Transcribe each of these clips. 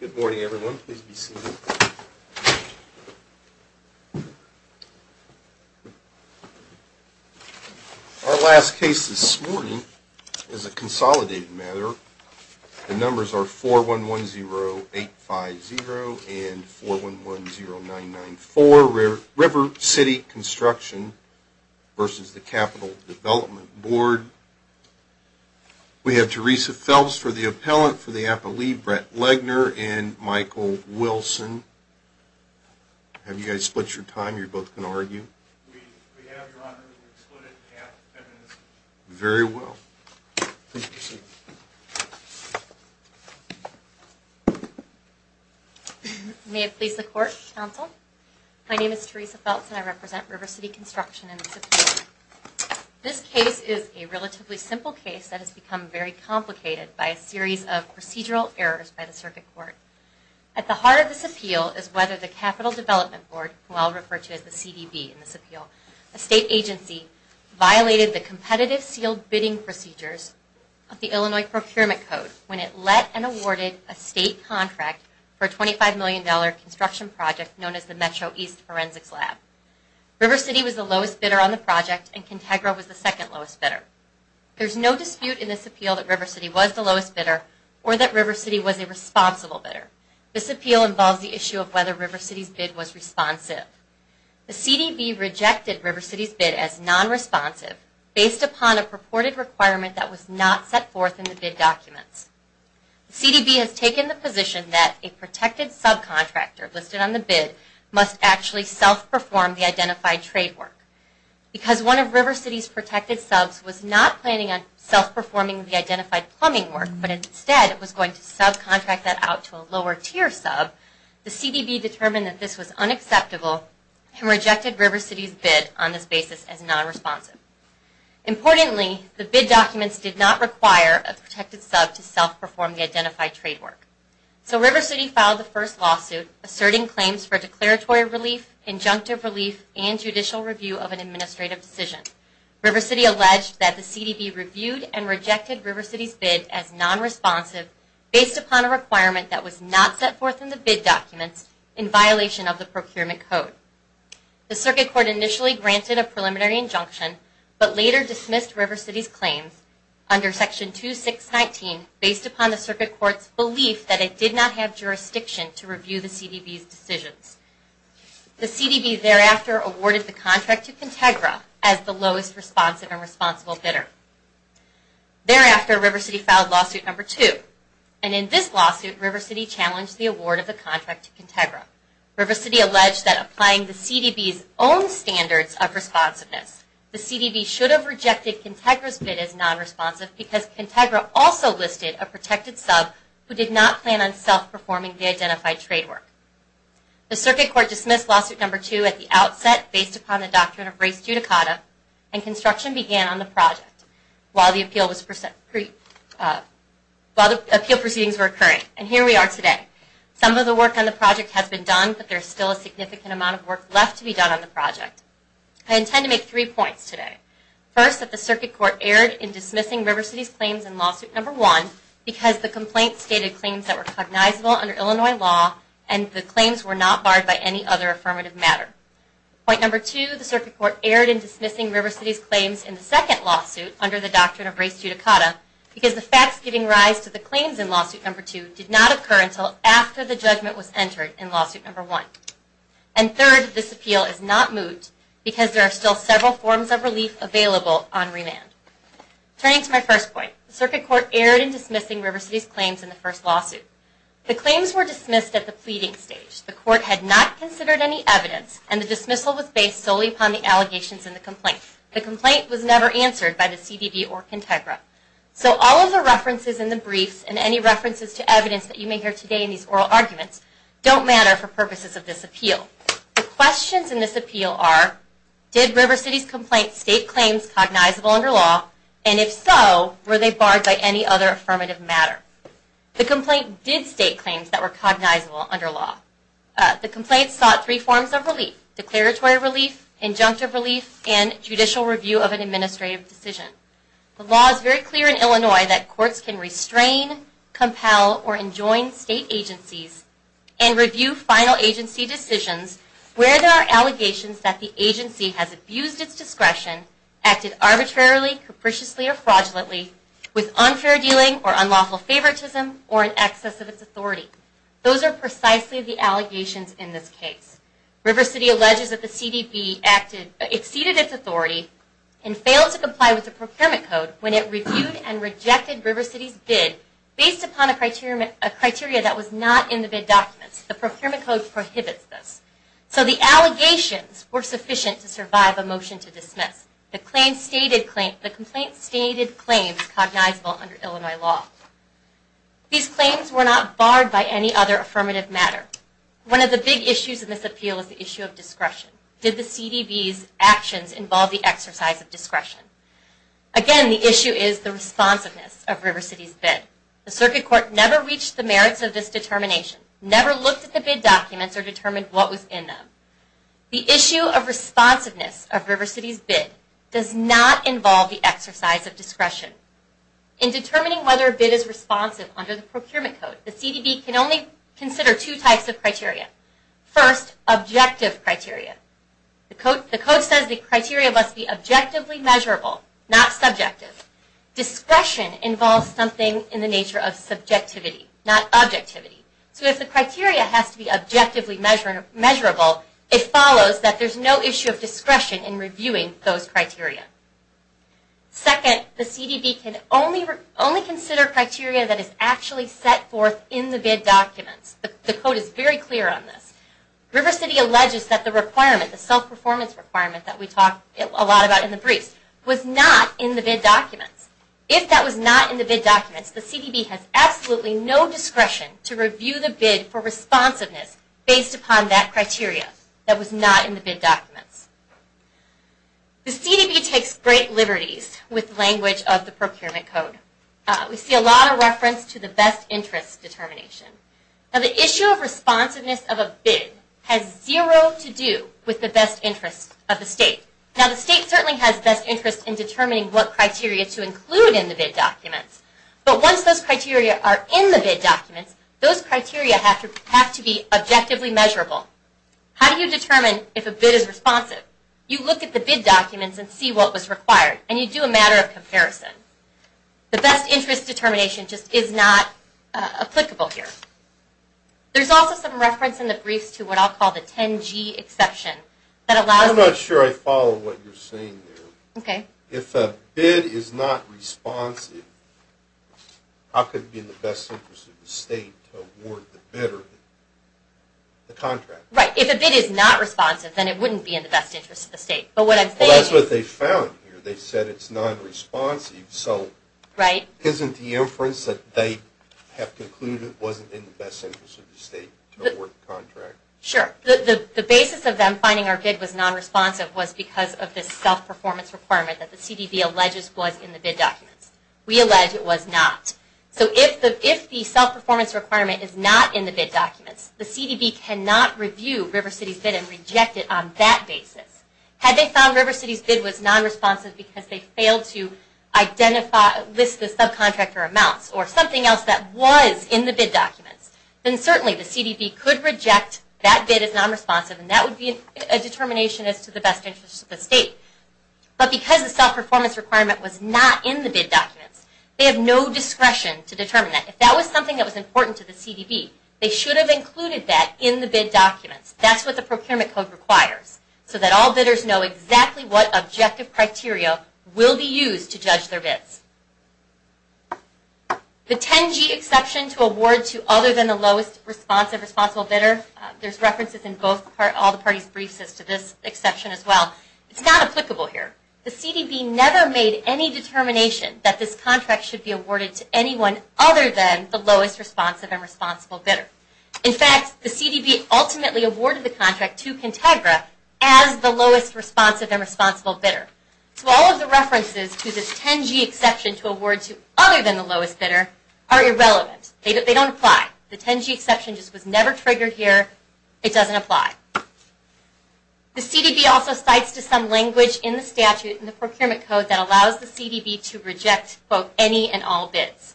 Good morning everyone. Our last case this morning is a consolidated matter. The numbers are 4110850 and 4110994, River City Construction v. The Capital Development Board. We have Teresa Phelps for the appellant for the appellee, Brett Legner, and Michael Wilson. Have you guys split your time? You're both going to argue? We have, Your Honor. We've split it in half. Very well. Please proceed. May it please the Court, Counsel. My name is Teresa Phelps and I represent River City Construction in this appeal. This case is a relatively simple case that has become very complicated by a series of procedural errors by the Circuit Court. At the heart of this appeal is whether the Capital Development Board, who I'll refer to as the CDB in this appeal, a state agency, violated the competitive sealed bidding procedures of the Illinois Procurement Code when it let and awarded a state contract for a $25 million construction project known as the Metro East Forensics Lab. River City was the lowest bidder on the project and Contegra was the second lowest bidder. There's no dispute in this appeal that River City was the lowest bidder or that River City was a responsible bidder. This appeal involves the issue of whether River City's bid was responsive. The CDB rejected River City's bid as non-responsive based upon a purported requirement that was not set forth in the bid documents. The CDB has taken the position that a protected subcontractor listed on the bid must actually self-perform the identified trade work. Because one of River City's protected subs was not planning on self-performing the identified plumbing work but instead was going to subcontract that out to a lower tier sub, the CDB determined that this was unacceptable and rejected River City's bid on this basis as non-responsive. Importantly, the bid documents did not require a protected sub to self-perform the identified trade work. So River City filed the first lawsuit asserting claims for declaratory relief, injunctive relief, and judicial review of an administrative decision. River City alleged that the CDB reviewed and rejected River City's bid as non-responsive based upon a requirement that was not set forth in the bid documents in violation of the Procurement Code. The Circuit Court initially granted a preliminary injunction but later dismissed River City's claims under Section 2619 based upon the Circuit Court's belief that it did not have jurisdiction to review the CDB's decisions. The CDB thereafter awarded the contract to Contegra as the lowest responsive and responsible bidder. Thereafter, River City filed Lawsuit No. 2. And in this lawsuit, River City challenged the award of the contract to Contegra. River City alleged that applying the CDB's own standards of responsiveness, the CDB should have rejected Contegra's bid as non-responsive because Contegra also listed a protected sub who did not plan on self-performing the identified trade work. The Circuit Court dismissed Lawsuit No. 2 at the outset based upon the doctrine of res judicata and construction began on the project while the appeal proceedings were occurring. And here we are today. Some of the work on the project has been done but there is still a significant amount of work left to be done on the project. I intend to make three points today. First, that the Circuit Court erred in dismissing River City's claims in Lawsuit No. 1 because the complaint stated claims that were cognizable under Illinois law and the claims were not barred by any other affirmative matter. Point No. 2, the Circuit Court erred in dismissing River City's claims in the second lawsuit under the doctrine of res judicata because the facts giving rise to the claims in Lawsuit No. 2 did not occur until after the judgment was entered in Lawsuit No. 1. And third, this appeal is not moved because there are still several forms of relief available on remand. Turning to my first point, the Circuit Court erred in dismissing River City's claims in the first lawsuit. The claims were dismissed at the pleading stage. The court had not considered any evidence and the dismissal was based solely upon the allegations in the complaint. The complaint was never answered by the CDB or Contegra. So all of the references in the briefs and any references to evidence that you may hear today in these oral arguments don't matter for purposes of this appeal. The questions in this appeal are, did River City's complaints state claims cognizable under law? And if so, were they barred by any other affirmative matter? The complaint did state claims that were cognizable under law. The complaint sought three forms of relief, declaratory relief, injunctive relief, and judicial review of an administrative decision. The law is very clear in Illinois that courts can restrain, compel, or enjoin state agencies and review final agency decisions where there are allegations that the agency has abused its discretion, acted arbitrarily, capriciously, or fraudulently, with unfair dealing or unlawful favoritism, or in excess of its authority. Those are precisely the allegations in this case. River City alleges that the CDB exceeded its authority and failed to comply with the procurement code when it reviewed and rejected River City's bid based upon a criteria that was not in the bid documents. The procurement code prohibits this. So the allegations were sufficient to survive a motion to dismiss. The complaint stated claims cognizable under Illinois law. These claims were not barred by any other affirmative matter. One of the big issues in this appeal is the issue of discretion. Did the CDB's actions involve the exercise of discretion? Again, the issue is the responsiveness of River City's bid. The Circuit Court never reached the merits of this determination, never looked at the bid documents or determined what was in them. The issue of responsiveness of River City's bid does not involve the exercise of discretion. In determining whether a bid is responsive under the procurement code, the CDB can only consider two types of criteria. First, objective criteria. The code says the criteria must be objectively measurable, not subjective. Discretion involves something in the nature of subjectivity, not objectivity. So if the criteria has to be objectively measurable, it follows that there is no issue of discretion in reviewing those criteria. Second, the CDB can only consider criteria that is actually set forth in the bid documents. The code is very clear on this. River City alleges that the requirement, the self-performance requirement that we talk a lot about in the briefs, was not in the bid documents. If that was not in the bid documents, the CDB has absolutely no discretion to review the bid for responsiveness based upon that criteria that was not in the bid documents. The CDB takes great liberties with language of the procurement code. We see a lot of reference to the best interest determination. Now the issue of responsiveness of a bid has zero to do with the best interest of the state. Now the state certainly has best interest in determining what criteria to include in the bid documents, but once those criteria are in the bid documents, those criteria have to be objectively measurable. How do you determine if a bid is responsive? You look at the bid documents and see what was required, and you do a matter of comparison. The best interest determination just is not applicable here. There is also some reference in the briefs to what I will call the 10G exception. I'm not sure I follow what you're saying there. Okay. If a bid is not responsive, how could it be in the best interest of the state to award the bidder the contract? Right. If a bid is not responsive, then it wouldn't be in the best interest of the state. Well, that's what they found here. They said it's non-responsive, so isn't the inference that they have concluded wasn't in the best interest of the state to award the contract? Sure. The basis of them finding our bid was non-responsive was because of this self-performance requirement that the CDB alleges was in the bid documents. We allege it was not. So if the self-performance requirement is not in the bid documents, the CDB cannot review RiverCity's bid and reject it on that basis. Had they found RiverCity's bid was non-responsive because they failed to list the subcontractor amounts or something else that was in the bid documents, then certainly the CDB could reject that bid as non-responsive, and that would be a determination as to the best interest of the state. But because the self-performance requirement was not in the bid documents, they have no discretion to determine that. If that was something that was important to the CDB, they should have included that in the bid documents. That's what the procurement code requires, so that all bidders know exactly what objective criteria will be used to judge their bids. The 10G exception to award to other than the lowest responsive responsible bidder. There's references in all the parties' briefs as to this exception as well. It's not applicable here. The CDB never made any determination that this contract should be awarded to anyone other than the lowest responsive and responsible bidder. In fact, the CDB ultimately awarded the contract to Contegra as the lowest responsive and responsible bidder. So all of the references to this 10G exception to award to other than the lowest bidder are irrelevant. They don't apply. The 10G exception just was never triggered here. It doesn't apply. The CDB also cites to some language in the statute in the procurement code that allows the CDB to reject, quote, any and all bids.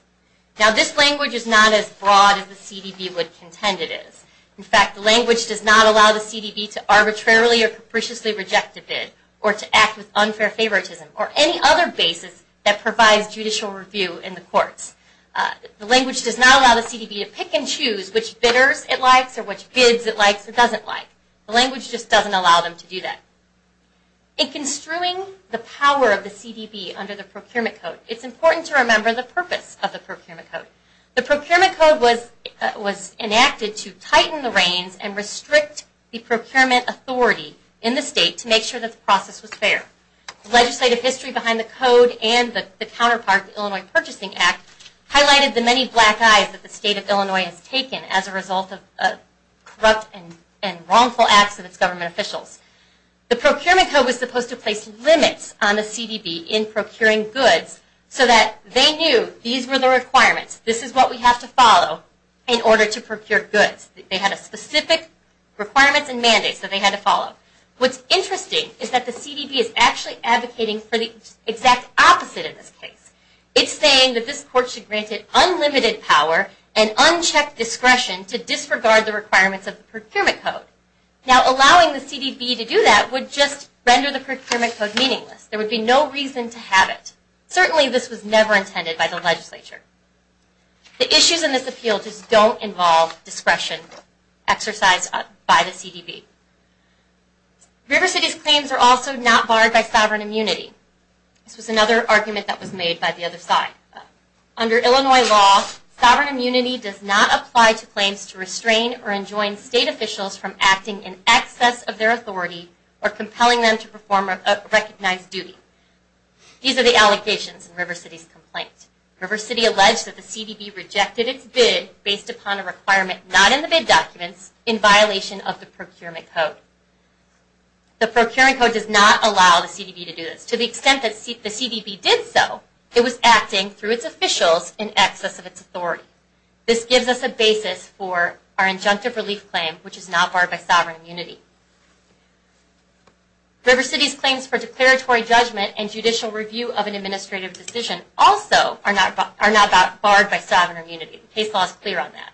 Now, this language is not as broad as the CDB would contend it is. In fact, the language does not allow the CDB to arbitrarily or capriciously reject a bid or to act with unfair favoritism or any other basis that provides judicial review in the courts. The language does not allow the CDB to pick and choose which bidders it likes or which bids it likes or doesn't like. The language just doesn't allow them to do that. In construing the power of the CDB under the procurement code, it's important to remember the purpose of the procurement code. The procurement code was enacted to tighten the reins and restrict the procurement authority in the state to make sure that the process was fair. The legislative history behind the code and the counterpart, the Illinois Purchasing Act, highlighted the many black eyes that the state of Illinois has taken as a result of corrupt and wrongful acts of its government officials. The procurement code was supposed to place limits on the CDB in procuring goods so that they knew these were the requirements, this is what we have to follow in order to procure goods. They had specific requirements and mandates that they had to follow. What's interesting is that the CDB is actually advocating for the exact opposite in this case. It's saying that this court should grant it unlimited power and unchecked discretion to disregard the requirements of the procurement code. Now, allowing the CDB to do that would just render the procurement code meaningless. There would be no reason to have it. Certainly, this was never intended by the legislature. The issues in this appeal just don't involve discretion exercised by the CDB. River City's claims are also not barred by sovereign immunity. This was another argument that was made by the other side. Under Illinois law, sovereign immunity does not apply to claims to restrain or enjoin state officials from acting in excess of their authority or compelling them to perform a recognized duty. These are the allegations in River City's complaint. River City alleged that the CDB rejected its bid based upon a requirement not in the bid documents in violation of the procurement code. The procuring code does not allow the CDB to do this. To the extent that the CDB did so, it was acting through its officials in excess of its authority. This gives us a basis for our injunctive relief claim, which is not barred by sovereign immunity. River City's claims for declaratory judgment and judicial review of an administrative decision also are not barred by sovereign immunity. The case law is clear on that.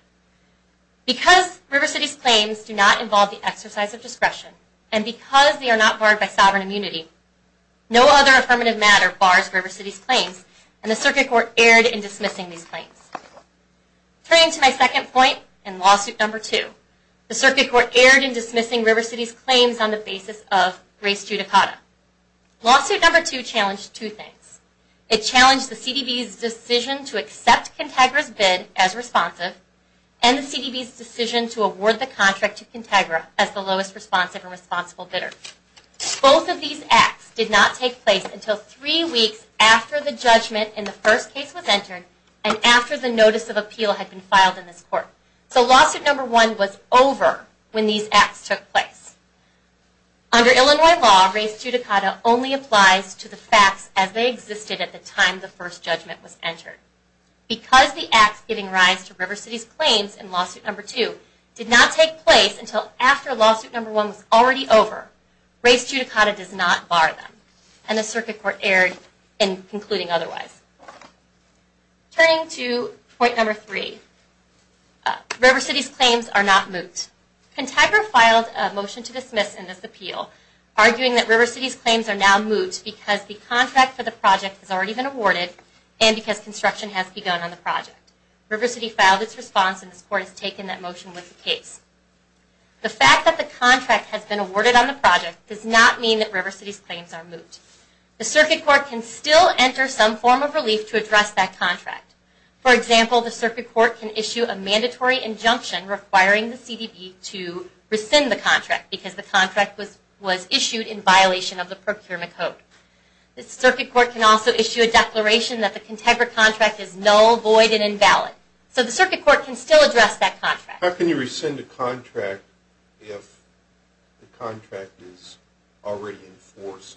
Because River City's claims do not involve the exercise of discretion, and because they are not barred by sovereign immunity, no other affirmative matter bars River City's claims, and the Circuit Court erred in dismissing these claims. Turning to my second point in lawsuit number two, the Circuit Court erred in dismissing River City's claims on the basis of grace judicata. Lawsuit number two challenged two things. It challenged the CDB's decision to accept Contagra's bid as responsive, and the CDB's decision to award the contract to Contagra as the lowest responsive and responsible bidder. Both of these acts did not take place until three weeks after the judgment in the first case was entered and after the notice of appeal had been filed in this court. So lawsuit number one was over when these acts took place. Under Illinois law, grace judicata only applies to the facts as they existed at the time the first judgment was entered. Because the acts giving rise to River City's claims in lawsuit number two did not take place until after lawsuit number one was already over, grace judicata does not bar them, and the Circuit Court erred in concluding otherwise. Turning to point number three, River City's claims are not moot. Contagra filed a motion to dismiss in this appeal, arguing that River City's claims are now moot because the contract for the project has already been awarded and because construction has begun on the project. River City filed its response, and this court has taken that motion with the case. The fact that the contract has been awarded on the project does not mean that River City's claims are moot. The Circuit Court can still enter some form of relief to address that contract. For example, the Circuit Court can issue a mandatory injunction requiring the CDB to rescind the contract because the contract was issued in violation of the Procurement Code. The Circuit Court can also issue a declaration that the Contagra contract is null, void, and invalid. How can you rescind a contract if the contract is already in force?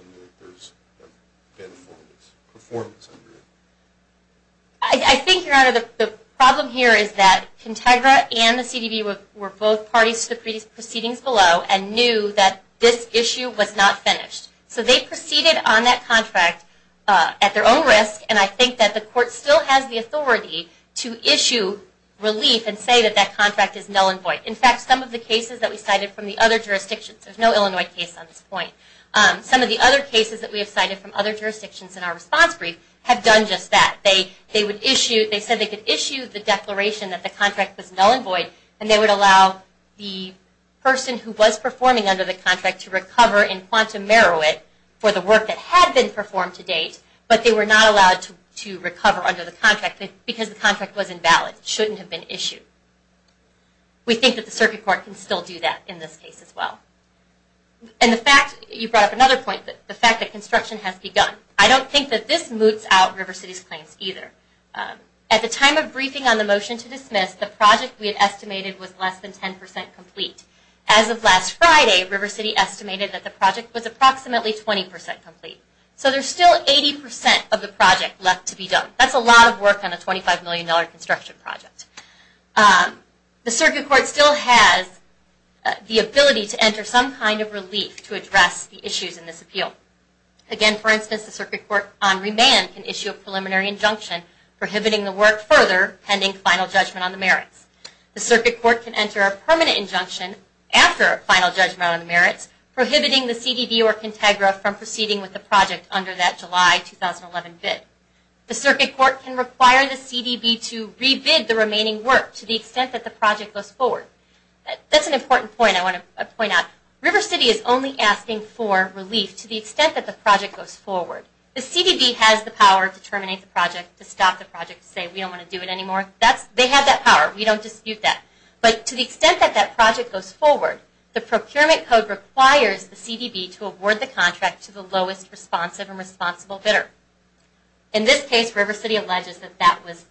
I think, Your Honor, the problem here is that Contagra and the CDB were both parties to the proceedings below and knew that this issue was not finished. So they proceeded on that contract at their own risk, and I think that the court still has the authority to issue relief and say that that contract is null and void. In fact, some of the cases that we cited from the other jurisdictions, there's no Illinois case on this point, some of the other cases that we have cited from other jurisdictions in our response brief have done just that. They said they could issue the declaration that the contract was null and void, and they would allow the person who was performing under the contract to recover in quantum merit for the work that had been performed to date, but they were not allowed to recover under the contract because the contract was invalid. It shouldn't have been issued. We think that the Circuit Court can still do that in this case as well. And the fact, you brought up another point, the fact that construction has begun. I don't think that this moots out River City's claims either. At the time of briefing on the motion to dismiss, the project we had estimated was less than 10% complete. As of last Friday, River City estimated that the project was approximately 20% complete. So there's still 80% of the project left to be done. That's a lot of work on a $25 million construction project. The Circuit Court still has the ability to enter some kind of relief to address the issues in this appeal. Again, for instance, the Circuit Court on remand can issue a preliminary injunction prohibiting the work further pending final judgment on the merits. The Circuit Court can enter a permanent injunction after final judgment on the merits prohibiting the CDB or Contegra from proceeding with the project under that July 2011 bid. The Circuit Court can require the CDB to re-bid the remaining work to the extent that the project goes forward. That's an important point I want to point out. River City is only asking for relief to the extent that the project goes forward. The CDB has the power to terminate the project, to stop the project, to say we don't want to do it anymore. They have that power. We don't dispute that. But to the extent that that project goes forward, the procurement code requires the CDB to award the contract to the lowest responsive and responsible bidder. In this case, River City alleges that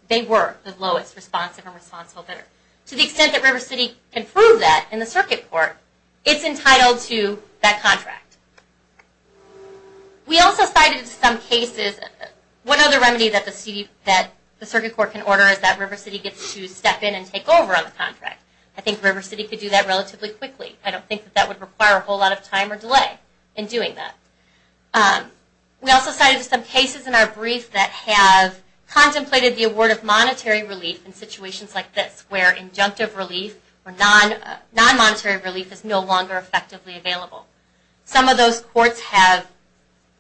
they were the lowest responsive and responsible bidder. To the extent that River City can prove that in the Circuit Court, it's entitled to that contract. We also cited some cases... One other remedy that the Circuit Court can order is that River City gets to step in and take over on the contract. I think River City could do that relatively quickly. I don't think that would require a whole lot of time or delay in doing that. We also cited some cases in our brief that have contemplated the award of monetary relief in situations like this, where injunctive relief or non-monetary relief is no longer effectively available. Some of those courts have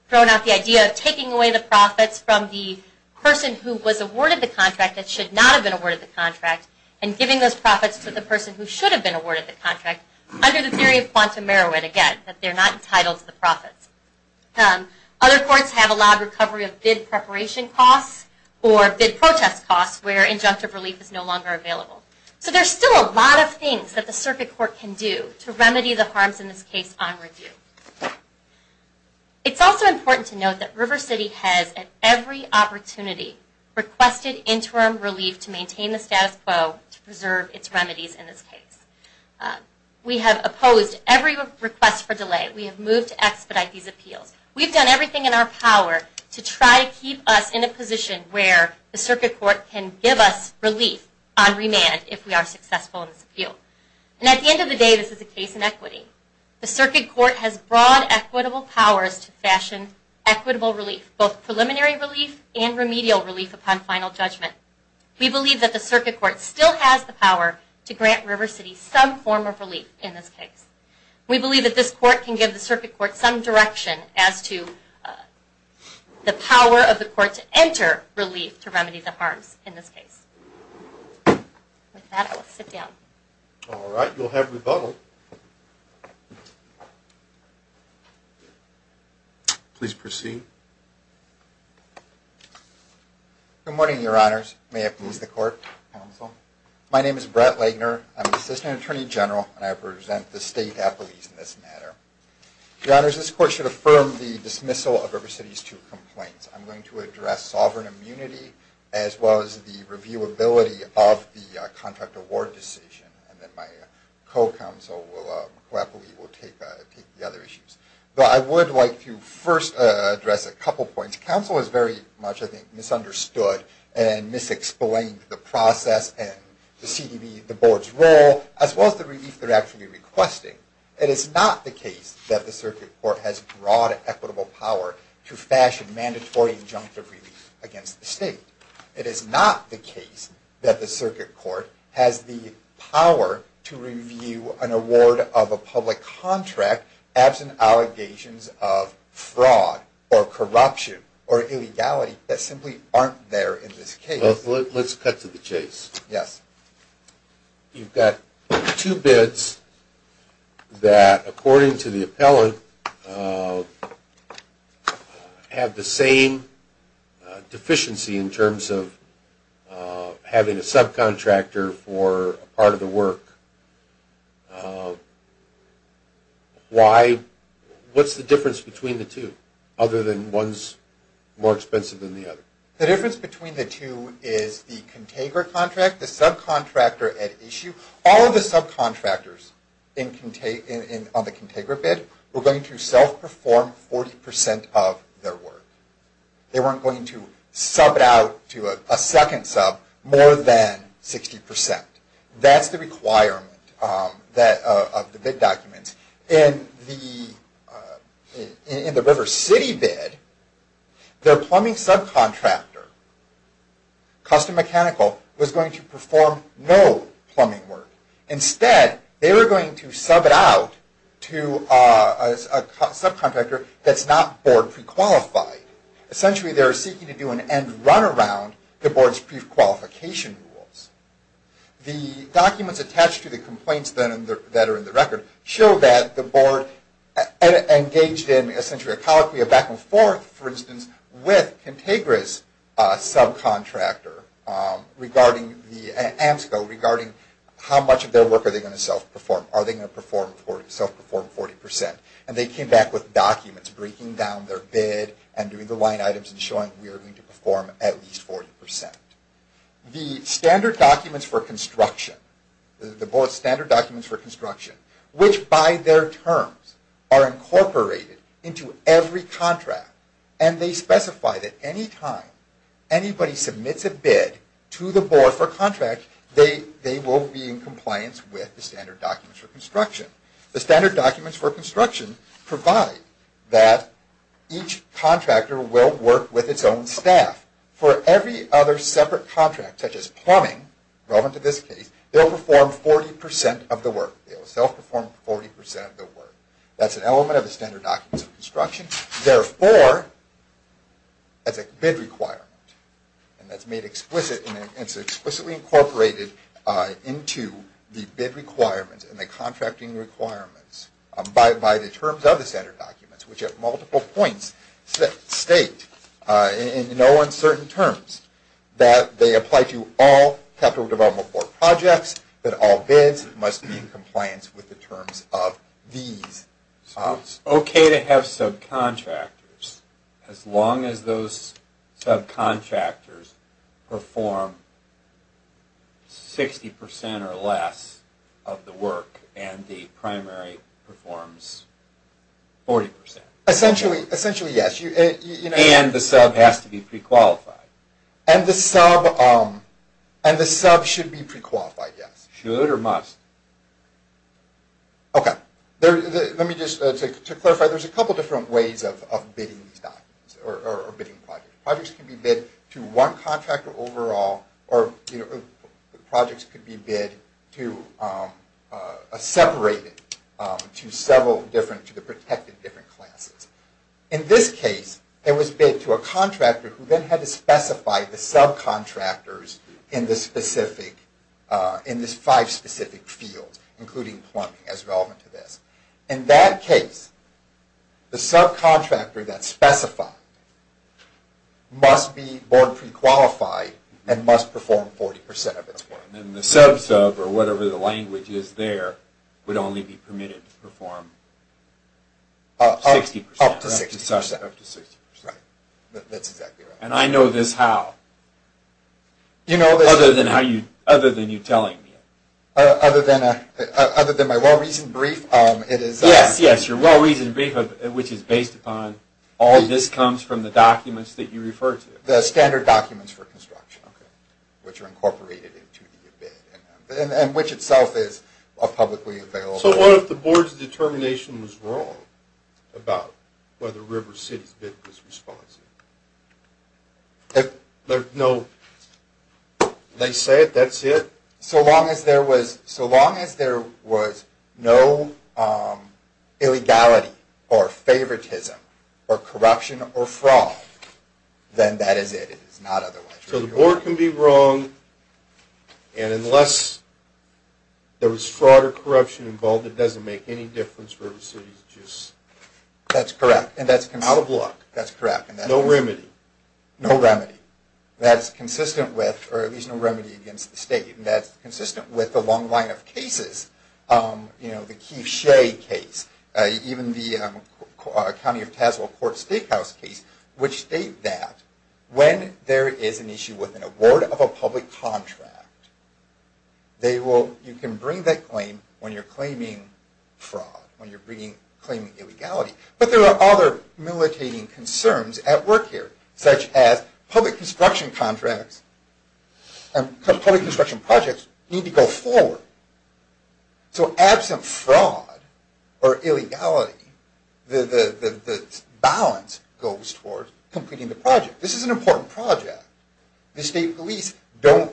thrown out the idea of taking away the profits from the person who was awarded the contract that should not have been awarded the contract, and giving those profits to the person who should have been awarded the contract, under the theory of quantum merit, again, that they're not entitled to the profits. Other courts have allowed recovery of bid preparation costs or bid protest costs, where injunctive relief is no longer available. So there's still a lot of things that the Circuit Court can do to remedy the harms in this case on review. It's also important to note that River City has, at every opportunity, requested interim relief to maintain the status quo to preserve its remedies in this case. We have opposed every request for delay. We have moved to expedite these appeals. We've done everything in our power to try to keep us in a position where the Circuit Court can give us relief on remand if we are successful in this appeal. And at the end of the day, this is a case in equity. The Circuit Court has broad equitable powers to fashion equitable relief, both preliminary relief and remedial relief upon final judgment. We believe that the Circuit Court still has the power to grant River City some form of relief in this case. We believe that this court can give the Circuit Court some direction as to the power of the court to enter relief to remedy the harms in this case. With that, I will sit down. All right, you'll have rebuttal. Please proceed. Good morning, Your Honors. May it please the Court, Counsel. My name is Brett Legner. I'm an Assistant Attorney General, and I represent the State Appellees in this matter. Your Honors, this Court should affirm the dismissal of River City's two complaints. I'm going to address sovereign immunity as well as the reviewability of the contract award decision, and then my co-appellee will take the other issues. But I would like to first address a couple points. Counsel has very much, I think, misunderstood and misexplained the process and the CDB, the Board's role, as well as the relief they're actually requesting. It is not the case that the Circuit Court has broad equitable power to fashion mandatory injunctive relief against the State. It is not the case that the Circuit Court has the power to review an award of a public contract absent allegations of fraud or corruption or illegality that simply aren't there in this case. Let's cut to the chase. Yes. You've got two bids that, according to the appellant, have the same deficiency in terms of having a subcontractor for part of the work. Why? What's the difference between the two, other than one's more expensive than the other? The difference between the two is the Contagra contract, the subcontractor at issue. All of the subcontractors on the Contagra bid were going to self-perform 40% of their work. They weren't going to sub it out to a second sub more than 60%. That's the requirement of the bid documents. In the River City bid, their plumbing subcontractor, Custom Mechanical, was going to perform no plumbing work. Instead, they were going to sub it out to a subcontractor that's not board pre-qualified. Essentially, they were seeking to do an end-runaround to the board's pre-qualification rules. The documents attached to the complaints that are in the record show that the board engaged in, regarding how much of their work are they going to self-perform. Are they going to self-perform 40%? They came back with documents breaking down their bid and doing the line items and showing we are going to perform at least 40%. The standard documents for construction, which by their terms are incorporated into every contract, and they specify that any time anybody submits a bid to the board for contract, they will be in compliance with the standard documents for construction. The standard documents for construction provide that each contractor will work with its own staff. For every other separate contract, such as plumbing, relevant to this case, they will perform 40% of the work. They will self-perform 40% of the work. That's an element of the standard documents for construction. Therefore, that's a bid requirement, and it's explicitly incorporated into the bid requirements and the contracting requirements by the terms of the standard documents, which at multiple points state in no uncertain terms that they apply to all Capital Development Board projects, that all bids must be in compliance with the terms of these. It's okay to have subcontractors as long as those subcontractors perform 60% or less of the work and the primary performs 40%. Essentially, yes. And the sub has to be pre-qualified. And the sub should be pre-qualified, yes. Should or must? Okay. Let me just, to clarify, there's a couple different ways of bidding these documents, or bidding projects. Projects can be bid to one contractor overall, or projects could be bid to a separated, to several different, to the protected different classes. In this case, it was bid to a contractor who then had to specify the subcontractors in this five specific fields, including plumbing as relevant to this. In that case, the subcontractor that specified must be board pre-qualified and must perform 40% of its work. And the sub-sub, or whatever the language is there, would only be permitted to perform 60%? Up to 60%. Up to 60%. Right. That's exactly right. And I know this how? Other than how you, other than you telling me. Other than my well-reasoned brief, it is. Yes, yes, your well-reasoned brief, which is based upon all this comes from the documents that you refer to. The standard documents for construction, which are incorporated into the bid. And which itself is publicly available. So what if the board's determination was wrong about whether River City's bid was responsive? If there's no, they say it, that's it? So long as there was, so long as there was no illegality or favoritism or corruption or fraud, then that is it. It is not otherwise. So the board can be wrong, and unless there was fraud or corruption involved, it doesn't make any difference. River City's just. That's correct. Out of luck. That's correct. No remedy. No remedy. That's consistent with, or at least no remedy against the state. And that's consistent with the long line of cases. You know, the Keith Shea case. Even the County of Tazewell Court Steakhouse case, which state that when there is an issue with an award of a public contract, they will, you can bring that claim when you're claiming fraud, when you're bringing, claiming illegality. But there are other militating concerns at work here, such as public construction contracts and public construction projects need to go forward. So absent fraud or illegality, the balance goes towards completing the project. This is an important project. The state police don't,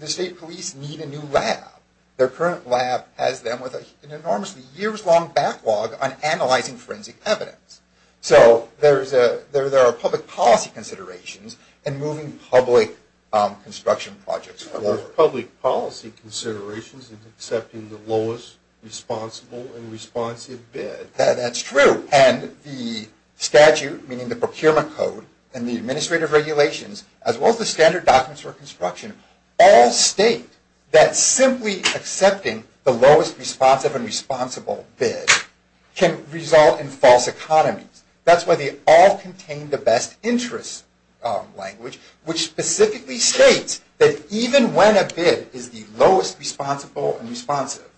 the state police need a new lab. Their current lab has them with an enormously years-long backlog on analyzing forensic evidence. So there are public policy considerations in moving public construction projects forward. There's public policy considerations in accepting the lowest responsible and responsive bid. That's true. And the statute, meaning the procurement code, and the administrative regulations, as well as the standard documents for construction, all state that simply accepting the lowest responsive and responsible bid can result in false economies. That's why they all contain the best interest language, which specifically states that even when a bid is the lowest responsible and responsive,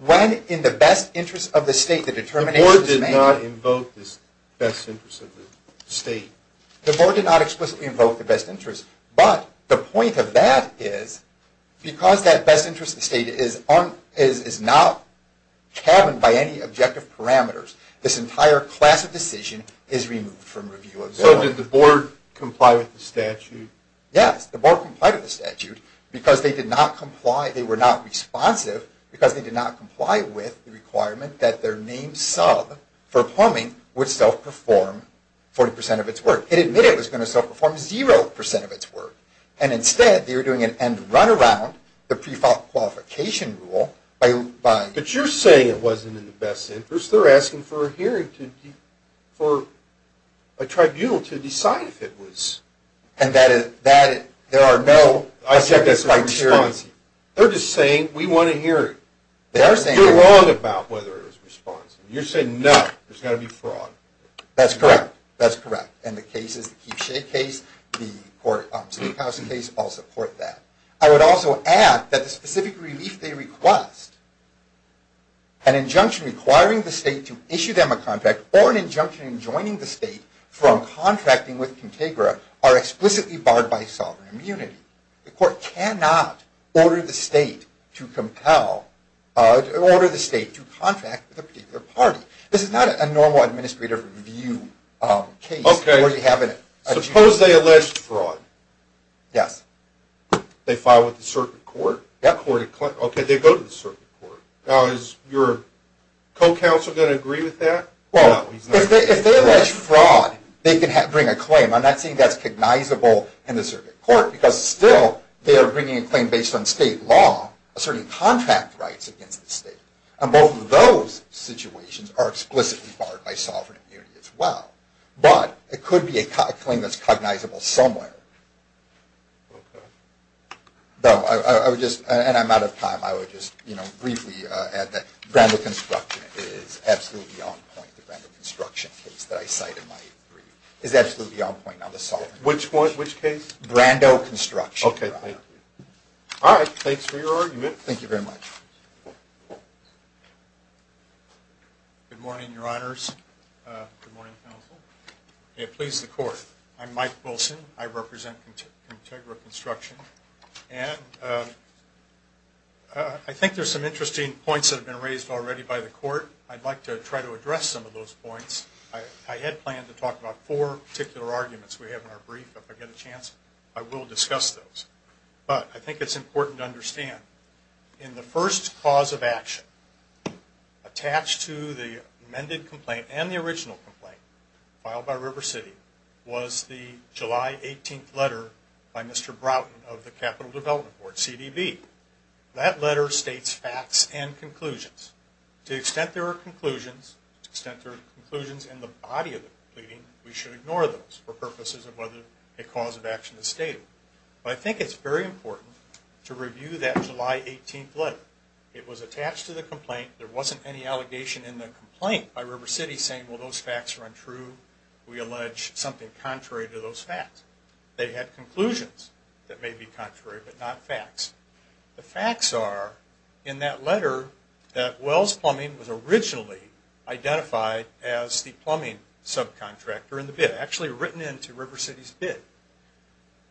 when in the best interest of the state the determination is made. The board did not invoke this best interest of the state. The board did not explicitly invoke the best interest. But the point of that is because that best interest of the state is not cabined by any objective parameters, this entire class of decision is removed from review of the law. So did the board comply with the statute? Yes, the board complied with the statute because they did not comply, they were not responsive, because they did not comply with the requirement that their name sub for plumbing would self-perform 40% of its work. It admitted it was going to self-perform 0% of its work. And instead they were doing an end-to-runaround, the pre-fault qualification rule. But you're saying it wasn't in the best interest. They're asking for a hearing for a tribunal to decide if it was. And there are no objectives or criteria. They're just saying, we want to hear it. You're wrong about whether it was responsive. You're saying, no, there's got to be fraud. That's correct. That's correct. And the case is the Keepshake case. The State House case, I'll support that. I would also add that the specific relief they request, an injunction requiring the state to issue them a contract, or an injunction enjoining the state from contracting with Contagra, are explicitly barred by sovereign immunity. The court cannot order the state to contract with a particular party. This is not a normal administrator review case. Suppose they allege fraud. Yes. They file with the circuit court. Okay, they go to the circuit court. Now, is your co-counsel going to agree with that? Well, if they allege fraud, they can bring a claim. I'm not saying that's cognizable in the circuit court, because still they are bringing a claim based on state law, asserting contract rights against the state. And both of those situations are explicitly barred by sovereign immunity as well. But it could be a claim that's cognizable somewhere. Okay. And I'm out of time. I would just briefly add that Granville Construction is absolutely on point. It's the Granville Construction case that I cite in my review. It's absolutely on point on the sovereign immunity case. Which case? Granville Construction. Okay. All right. Thanks for your argument. Thank you very much. Good morning, Your Honors. Good morning, Counsel. May it please the Court. I'm Mike Wilson. I represent Contagra Construction. And I think there's some interesting points that have been raised already by the Court. I'd like to try to address some of those points. I had planned to talk about four particular arguments we have in our brief. If I get a chance, I will discuss those. But I think it's important to understand. In the first cause of action, attached to the amended complaint and the original complaint, filed by River City, was the July 18th letter by Mr. Broughton of the Capital Development Board, CDB. That letter states facts and conclusions. To the extent there are conclusions, to the extent there are conclusions in the body of the pleading, we should ignore those for purposes of whether a cause of action is stated. But I think it's very important to review that July 18th letter. It was attached to the complaint. There wasn't any allegation in the complaint by River City saying, well, those facts are untrue. We allege something contrary to those facts. They had conclusions that may be contrary but not facts. The facts are, in that letter, that Wells Plumbing was originally identified as the plumbing subcontractor in the bid. Actually written into River City's bid.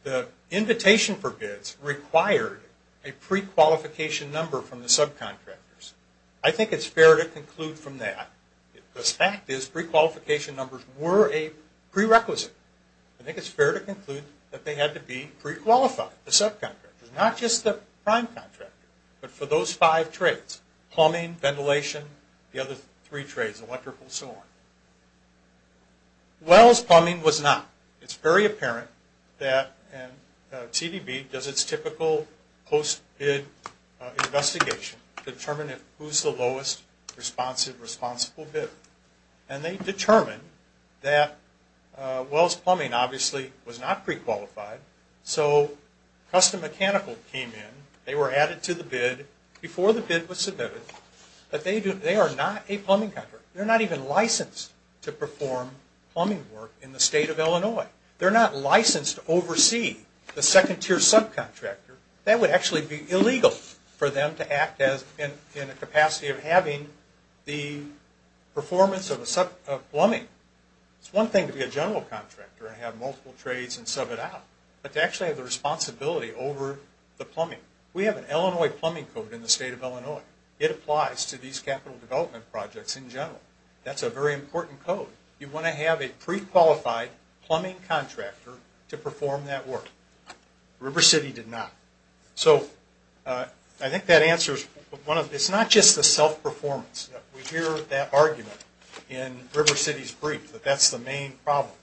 The invitation for bids required a pre-qualification number from the subcontractors. I think it's fair to conclude from that, the fact is pre-qualification numbers were a prerequisite. I think it's fair to conclude that they had to be pre-qualified, the subcontractors. Not just the prime contractor, but for those five trades. Plumbing, ventilation, the other three trades, electrical, so on. Wells Plumbing was not. It's very apparent that CBB does its typical post-bid investigation to determine who's the lowest responsive, responsible bidder. And they determined that Wells Plumbing obviously was not pre-qualified, so Custom Mechanical came in. They were added to the bid before the bid was submitted. But they are not a plumbing contractor. They're not even licensed to perform plumbing work in the state of Illinois. They're not licensed to oversee the second tier subcontractor. That would actually be illegal for them to act in a capacity of having the performance of plumbing. It's one thing to be a general contractor and have multiple trades and sub it out, but to actually have the responsibility over the plumbing. We have an Illinois plumbing code in the state of Illinois. It applies to these capital development projects in general. That's a very important code. You want to have a pre-qualified plumbing contractor to perform that work. River City did not. So I think that answers one of the... It's not just the self-performance. We hear that argument in River City's brief that that's the main problem.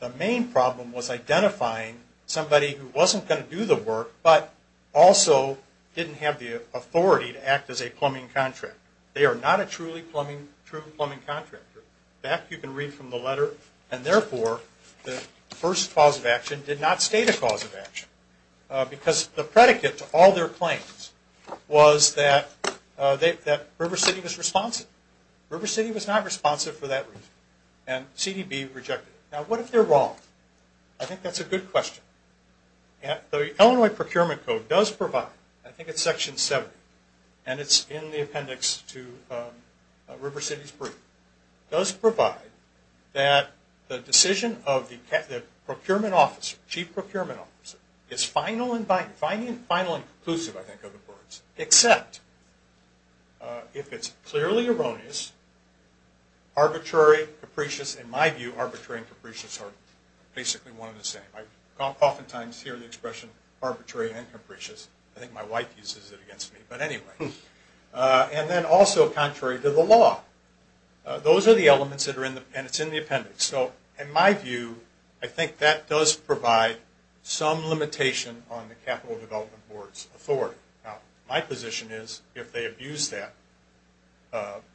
The main problem was identifying somebody who wasn't going to do the work but also didn't have the authority to act as a plumbing contractor. They are not a true plumbing contractor. In fact, you can read from the letter, and therefore the first cause of action did not state a cause of action. Because the predicate to all their claims was that River City was responsive. River City was not responsive for that reason, and CDB rejected it. Now what if they're wrong? I think that's a good question. The Illinois procurement code does provide, I think it's section 70, and it's in the appendix to River City's brief, does provide that the decision of the procurement officer, chief procurement officer, is final and conclusive, I think are the words, except if it's clearly erroneous, arbitrary, capricious. In my view, arbitrary and capricious are basically one and the same. I oftentimes hear the expression arbitrary and capricious. I think my wife uses it against me, but anyway. And then also contrary to the law. Those are the elements that are in the appendix. So in my view, I think that does provide some limitation on the Capital Development Board's authority. Now my position is if they abuse that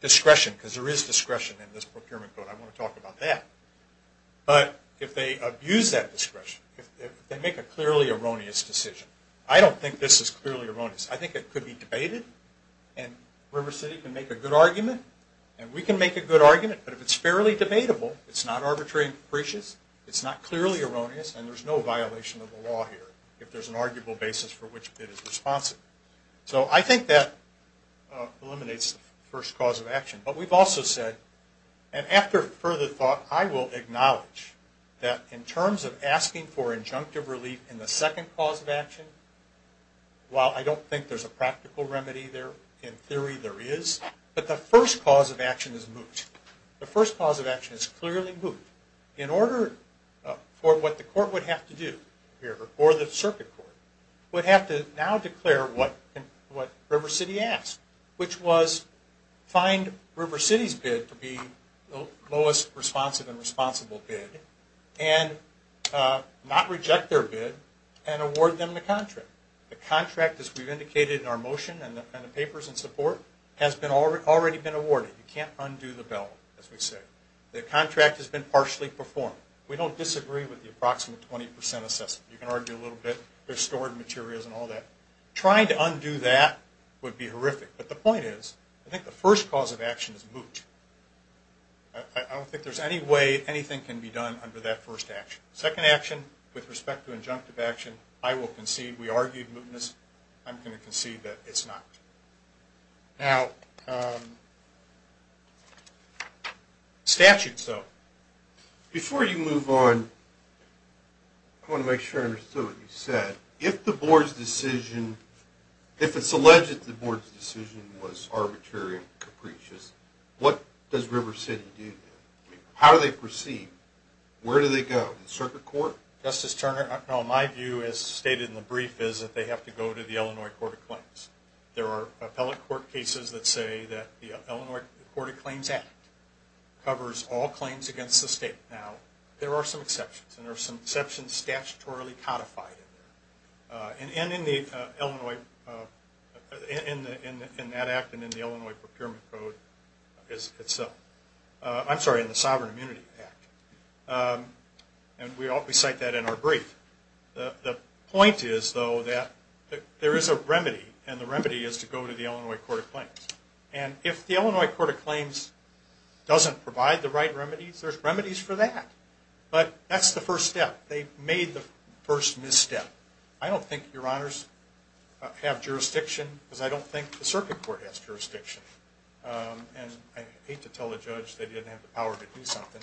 discretion, because there is discretion in this procurement code, I want to talk about that. But if they abuse that discretion, if they make a clearly erroneous decision, I don't think this is clearly erroneous. I think it could be debated, and River City can make a good argument, and we can make a good argument, but if it's fairly debatable, it's not arbitrary and capricious, it's not clearly erroneous, and there's no violation of the law here, if there's an arguable basis for which it is responsive. So I think that eliminates the first cause of action. But we've also said, and after further thought, I will acknowledge that in terms of asking for injunctive relief in the second cause of action, while I don't think there's a practical remedy there, in theory there is, but the first cause of action is moot. The first cause of action is clearly moot. In order for what the court would have to do, or the circuit court, would have to now declare what River City asked, which was find River City's bid to be the lowest responsive and responsible bid, and not reject their bid, and award them the contract. The contract, as we've indicated in our motion and the papers in support, has already been awarded. You can't undo the bell, as we say. The contract has been partially performed. We don't disagree with the approximate 20% assessment. You can argue a little bit. There's stored materials and all that. Trying to undo that would be horrific, but the point is, I think the first cause of action is moot. I don't think there's any way anything can be done under that first action. Second action, with respect to injunctive action, I will concede, we argued mootness. I'm going to concede that it's not. Now, statutes, though. Before you move on, I want to make sure I understood what you said. If the board's decision, if it's alleged that the board's decision was arbitrary and capricious, what does River City do? How do they proceed? Where do they go? The circuit court? Justice Turner, my view, as stated in the brief, is that they have to go to the Illinois Court of Claims. There are appellate court cases that say that the Illinois Court of Claims Act covers all claims against the state. Now, there are some exceptions, and there are some exceptions statutorily codified in there. And in that act and in the Illinois Procurement Code itself. I'm sorry, in the Sovereign Immunity Act. And we cite that in our brief. The point is, though, that there is a remedy, and the remedy is to go to the Illinois Court of Claims. And if the Illinois Court of Claims doesn't provide the right remedies, there's remedies for that. But that's the first step. They've made the first misstep. I don't think your honors have jurisdiction, because I don't think the circuit court has jurisdiction. And I hate to tell a judge they didn't have the power to do something.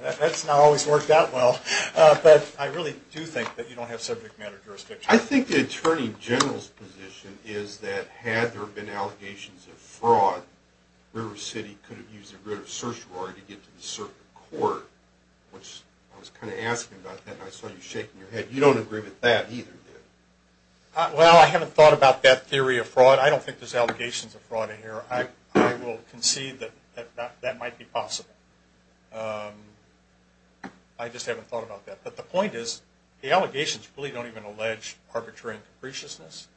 That's not always worked out well. But I really do think that you don't have subject matter jurisdiction. I think the Attorney General's position is that had there been allegations of fraud, River City could have used a greater certiorari to get to the circuit court, which I was kind of asking about that, and I saw you shaking your head. You don't agree with that either, do you? Well, I haven't thought about that theory of fraud. But I don't think there's allegations of fraud in here. I will concede that that might be possible. I just haven't thought about that. But the point is the allegations really don't even allege arbitrary and capriciousness.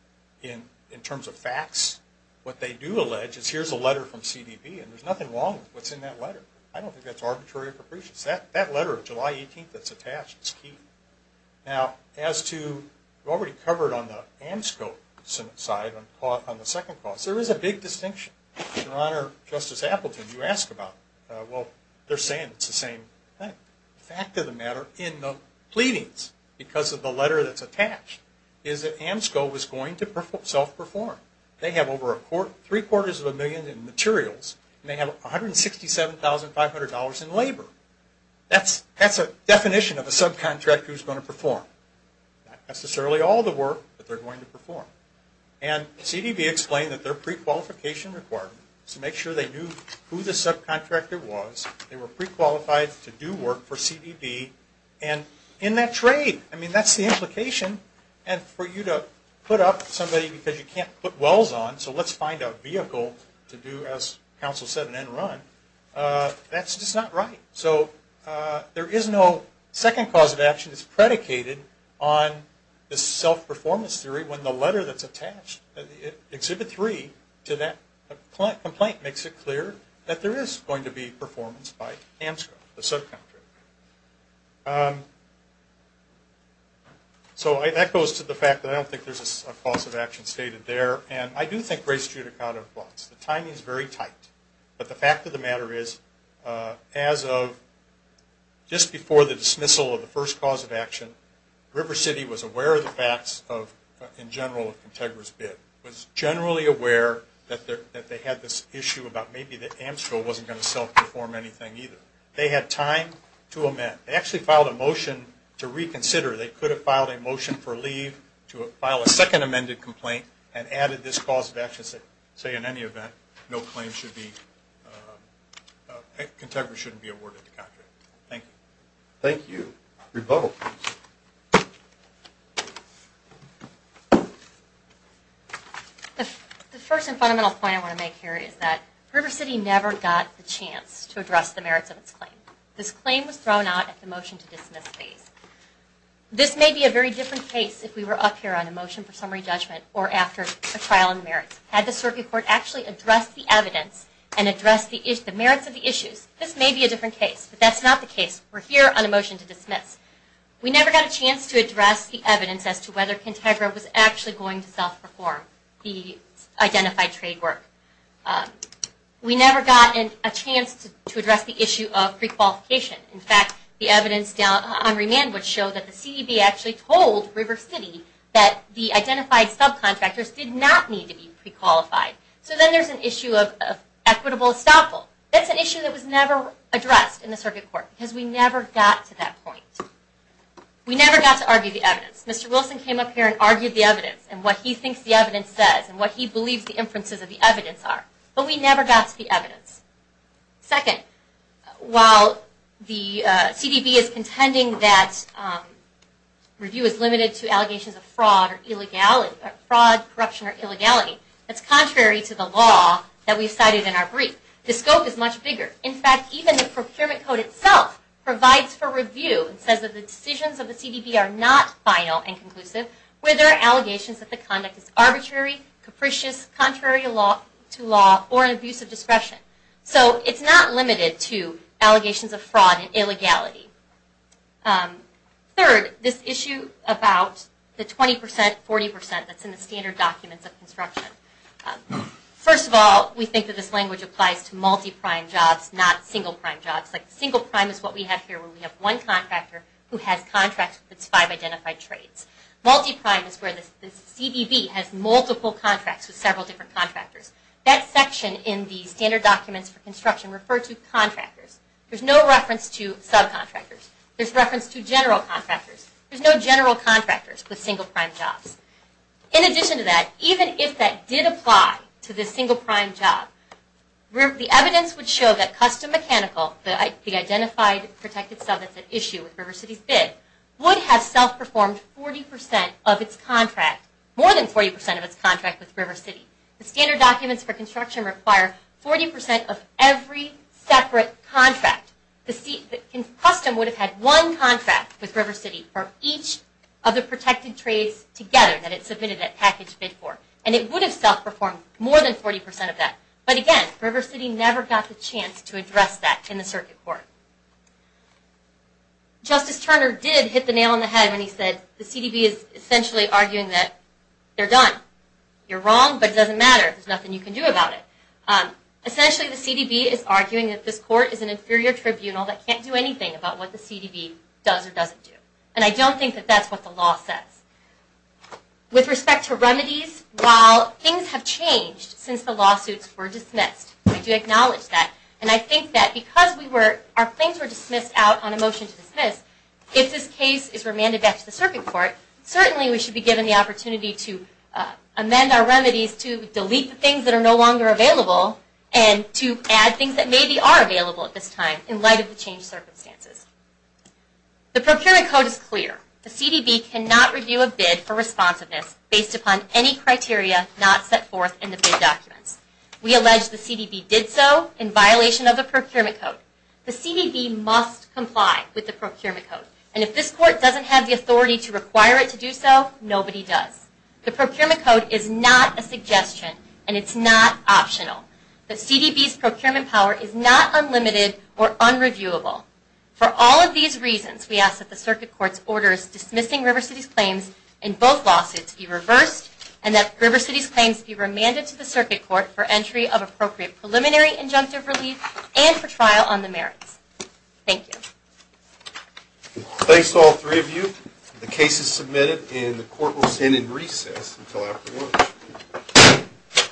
In terms of facts, what they do allege is here's a letter from CDB, and there's nothing wrong with what's in that letter. I don't think that's arbitrary or capricious. That letter of July 18th that's attached is key. Now, as to what we covered on the AMSCO side on the second clause, there is a big distinction. Your Honor, Justice Appleton, you asked about it. Well, they're saying it's the same thing. The fact of the matter in the pleadings, because of the letter that's attached, is that AMSCO was going to self-perform. They have over three-quarters of a million in materials, and they have $167,500 in labor. That's a definition of a subcontractor who's going to perform. Not necessarily all the work, but they're going to perform. And CDB explained that their prequalification requirement is to make sure they knew who the subcontractor was, they were prequalified to do work for CDB, and in that trade, I mean, that's the implication. And for you to put up somebody because you can't put wells on, so let's find a vehicle to do, as counsel said, an end run, that's just not right. So there is no second cause of action. It's predicated on the self-performance theory when the letter that's attached, Exhibit 3, to that complaint makes it clear that there is going to be performance by AMSCO, the subcontractor. So that goes to the fact that I don't think there's a cause of action stated there, and I do think Grace Judicata was. The timing is very tight. But the fact of the matter is, as of just before the dismissal of the first cause of action, River City was aware of the facts in general of Contegra's bid, was generally aware that they had this issue about maybe that AMSCO wasn't going to self-perform anything either. They had time to amend. They actually filed a motion to reconsider. They could have filed a motion for leave to file a second amended complaint and added this cause of action saying in any event, no claim should be, Contegra shouldn't be awarded the contract. Thank you. Thank you. Rebuttal, please. The first and fundamental point I want to make here is that River City never got the chance to address the merits of its claim. This claim was thrown out at the motion to dismiss phase. This may be a very different case if we were up here on a motion for summary judgment or after a trial in the merits. Had the circuit court actually addressed the evidence and addressed the merits of the issues, this may be a different case. But that's not the case. We're here on a motion to dismiss. We never got a chance to address the evidence as to whether Contegra was actually going to self-perform the identified trade work. We never got a chance to address the issue of prequalification. In fact, the evidence down on remand would show that the CDB actually told River City that the identified subcontractors did not need to be prequalified. So then there's an issue of equitable estoppel. That's an issue that was never addressed in the circuit court because we never got to that point. We never got to argue the evidence. Mr. Wilson came up here and argued the evidence and what he thinks the evidence says and what he believes the inferences of the evidence are. But we never got to the evidence. Second, while the CDB is contending that review is limited to allegations of fraud, corruption, or illegality, that's contrary to the law that we cited in our brief. The scope is much bigger. In fact, even the procurement code itself provides for review and says that the decisions of the CDB are not final and conclusive where there are allegations that the conduct is arbitrary, capricious, contrary to law, or an abuse of discretion. So it's not limited to allegations of fraud and illegality. Third, this issue about the 20%, 40% that's in the standard documents of construction. First of all, we think that this language applies to multi-prime jobs, not single-prime jobs. Single-prime is what we have here where we have one contractor who has contracts with its five identified trades. Multi-prime is where the CDB has multiple contracts with several different contractors. That section in the standard documents for construction refers to contractors. There's no reference to subcontractors. There's reference to general contractors. There's no general contractors with single-prime jobs. In addition to that, even if that did apply to the single-prime job, the evidence would show that custom mechanical, the identified protected sub that's at issue with River City's bid, would have self-performed 40% of its contract, more than 40% of its contract with River City. The standard documents for construction require 40% of every separate contract. Custom would have had one contract with River City for each of the protected trades together that it submitted that package bid for. And it would have self-performed more than 40% of that. But again, River City never got the chance to address that in the circuit court. Justice Turner did hit the nail on the head when he said the CDB is essentially arguing that they're done. You're wrong, but it doesn't matter. There's nothing you can do about it. Essentially, the CDB is arguing that this court is an inferior tribunal that can't do anything about what the CDB does or doesn't do. And I don't think that that's what the law says. With respect to remedies, while things have changed since the lawsuits were dismissed, we do acknowledge that. And I think that because our claims were dismissed out on a motion to dismiss, if this case is remanded back to the circuit court, certainly we should be given the opportunity to amend our remedies, to delete the things that are no longer available, and to add things that maybe are available at this time in light of the changed circumstances. The procurement code is clear. The CDB cannot review a bid for responsiveness based upon any criteria not set forth in the bid documents. We allege the CDB did so in violation of the procurement code. The CDB must comply with the procurement code. And if this court doesn't have the authority to require it to do so, nobody does. The procurement code is not a suggestion, and it's not optional. The CDB's procurement power is not unlimited or unreviewable. For all of these reasons, we ask that the circuit court's orders dismissing River City's claims in both lawsuits be reversed, and that River City's claims be remanded to the circuit court for entry of appropriate preliminary injunctive relief and for trial on the merits. Thank you. Thanks to all three of you. The case is submitted, and the court will stand in recess until after lunch.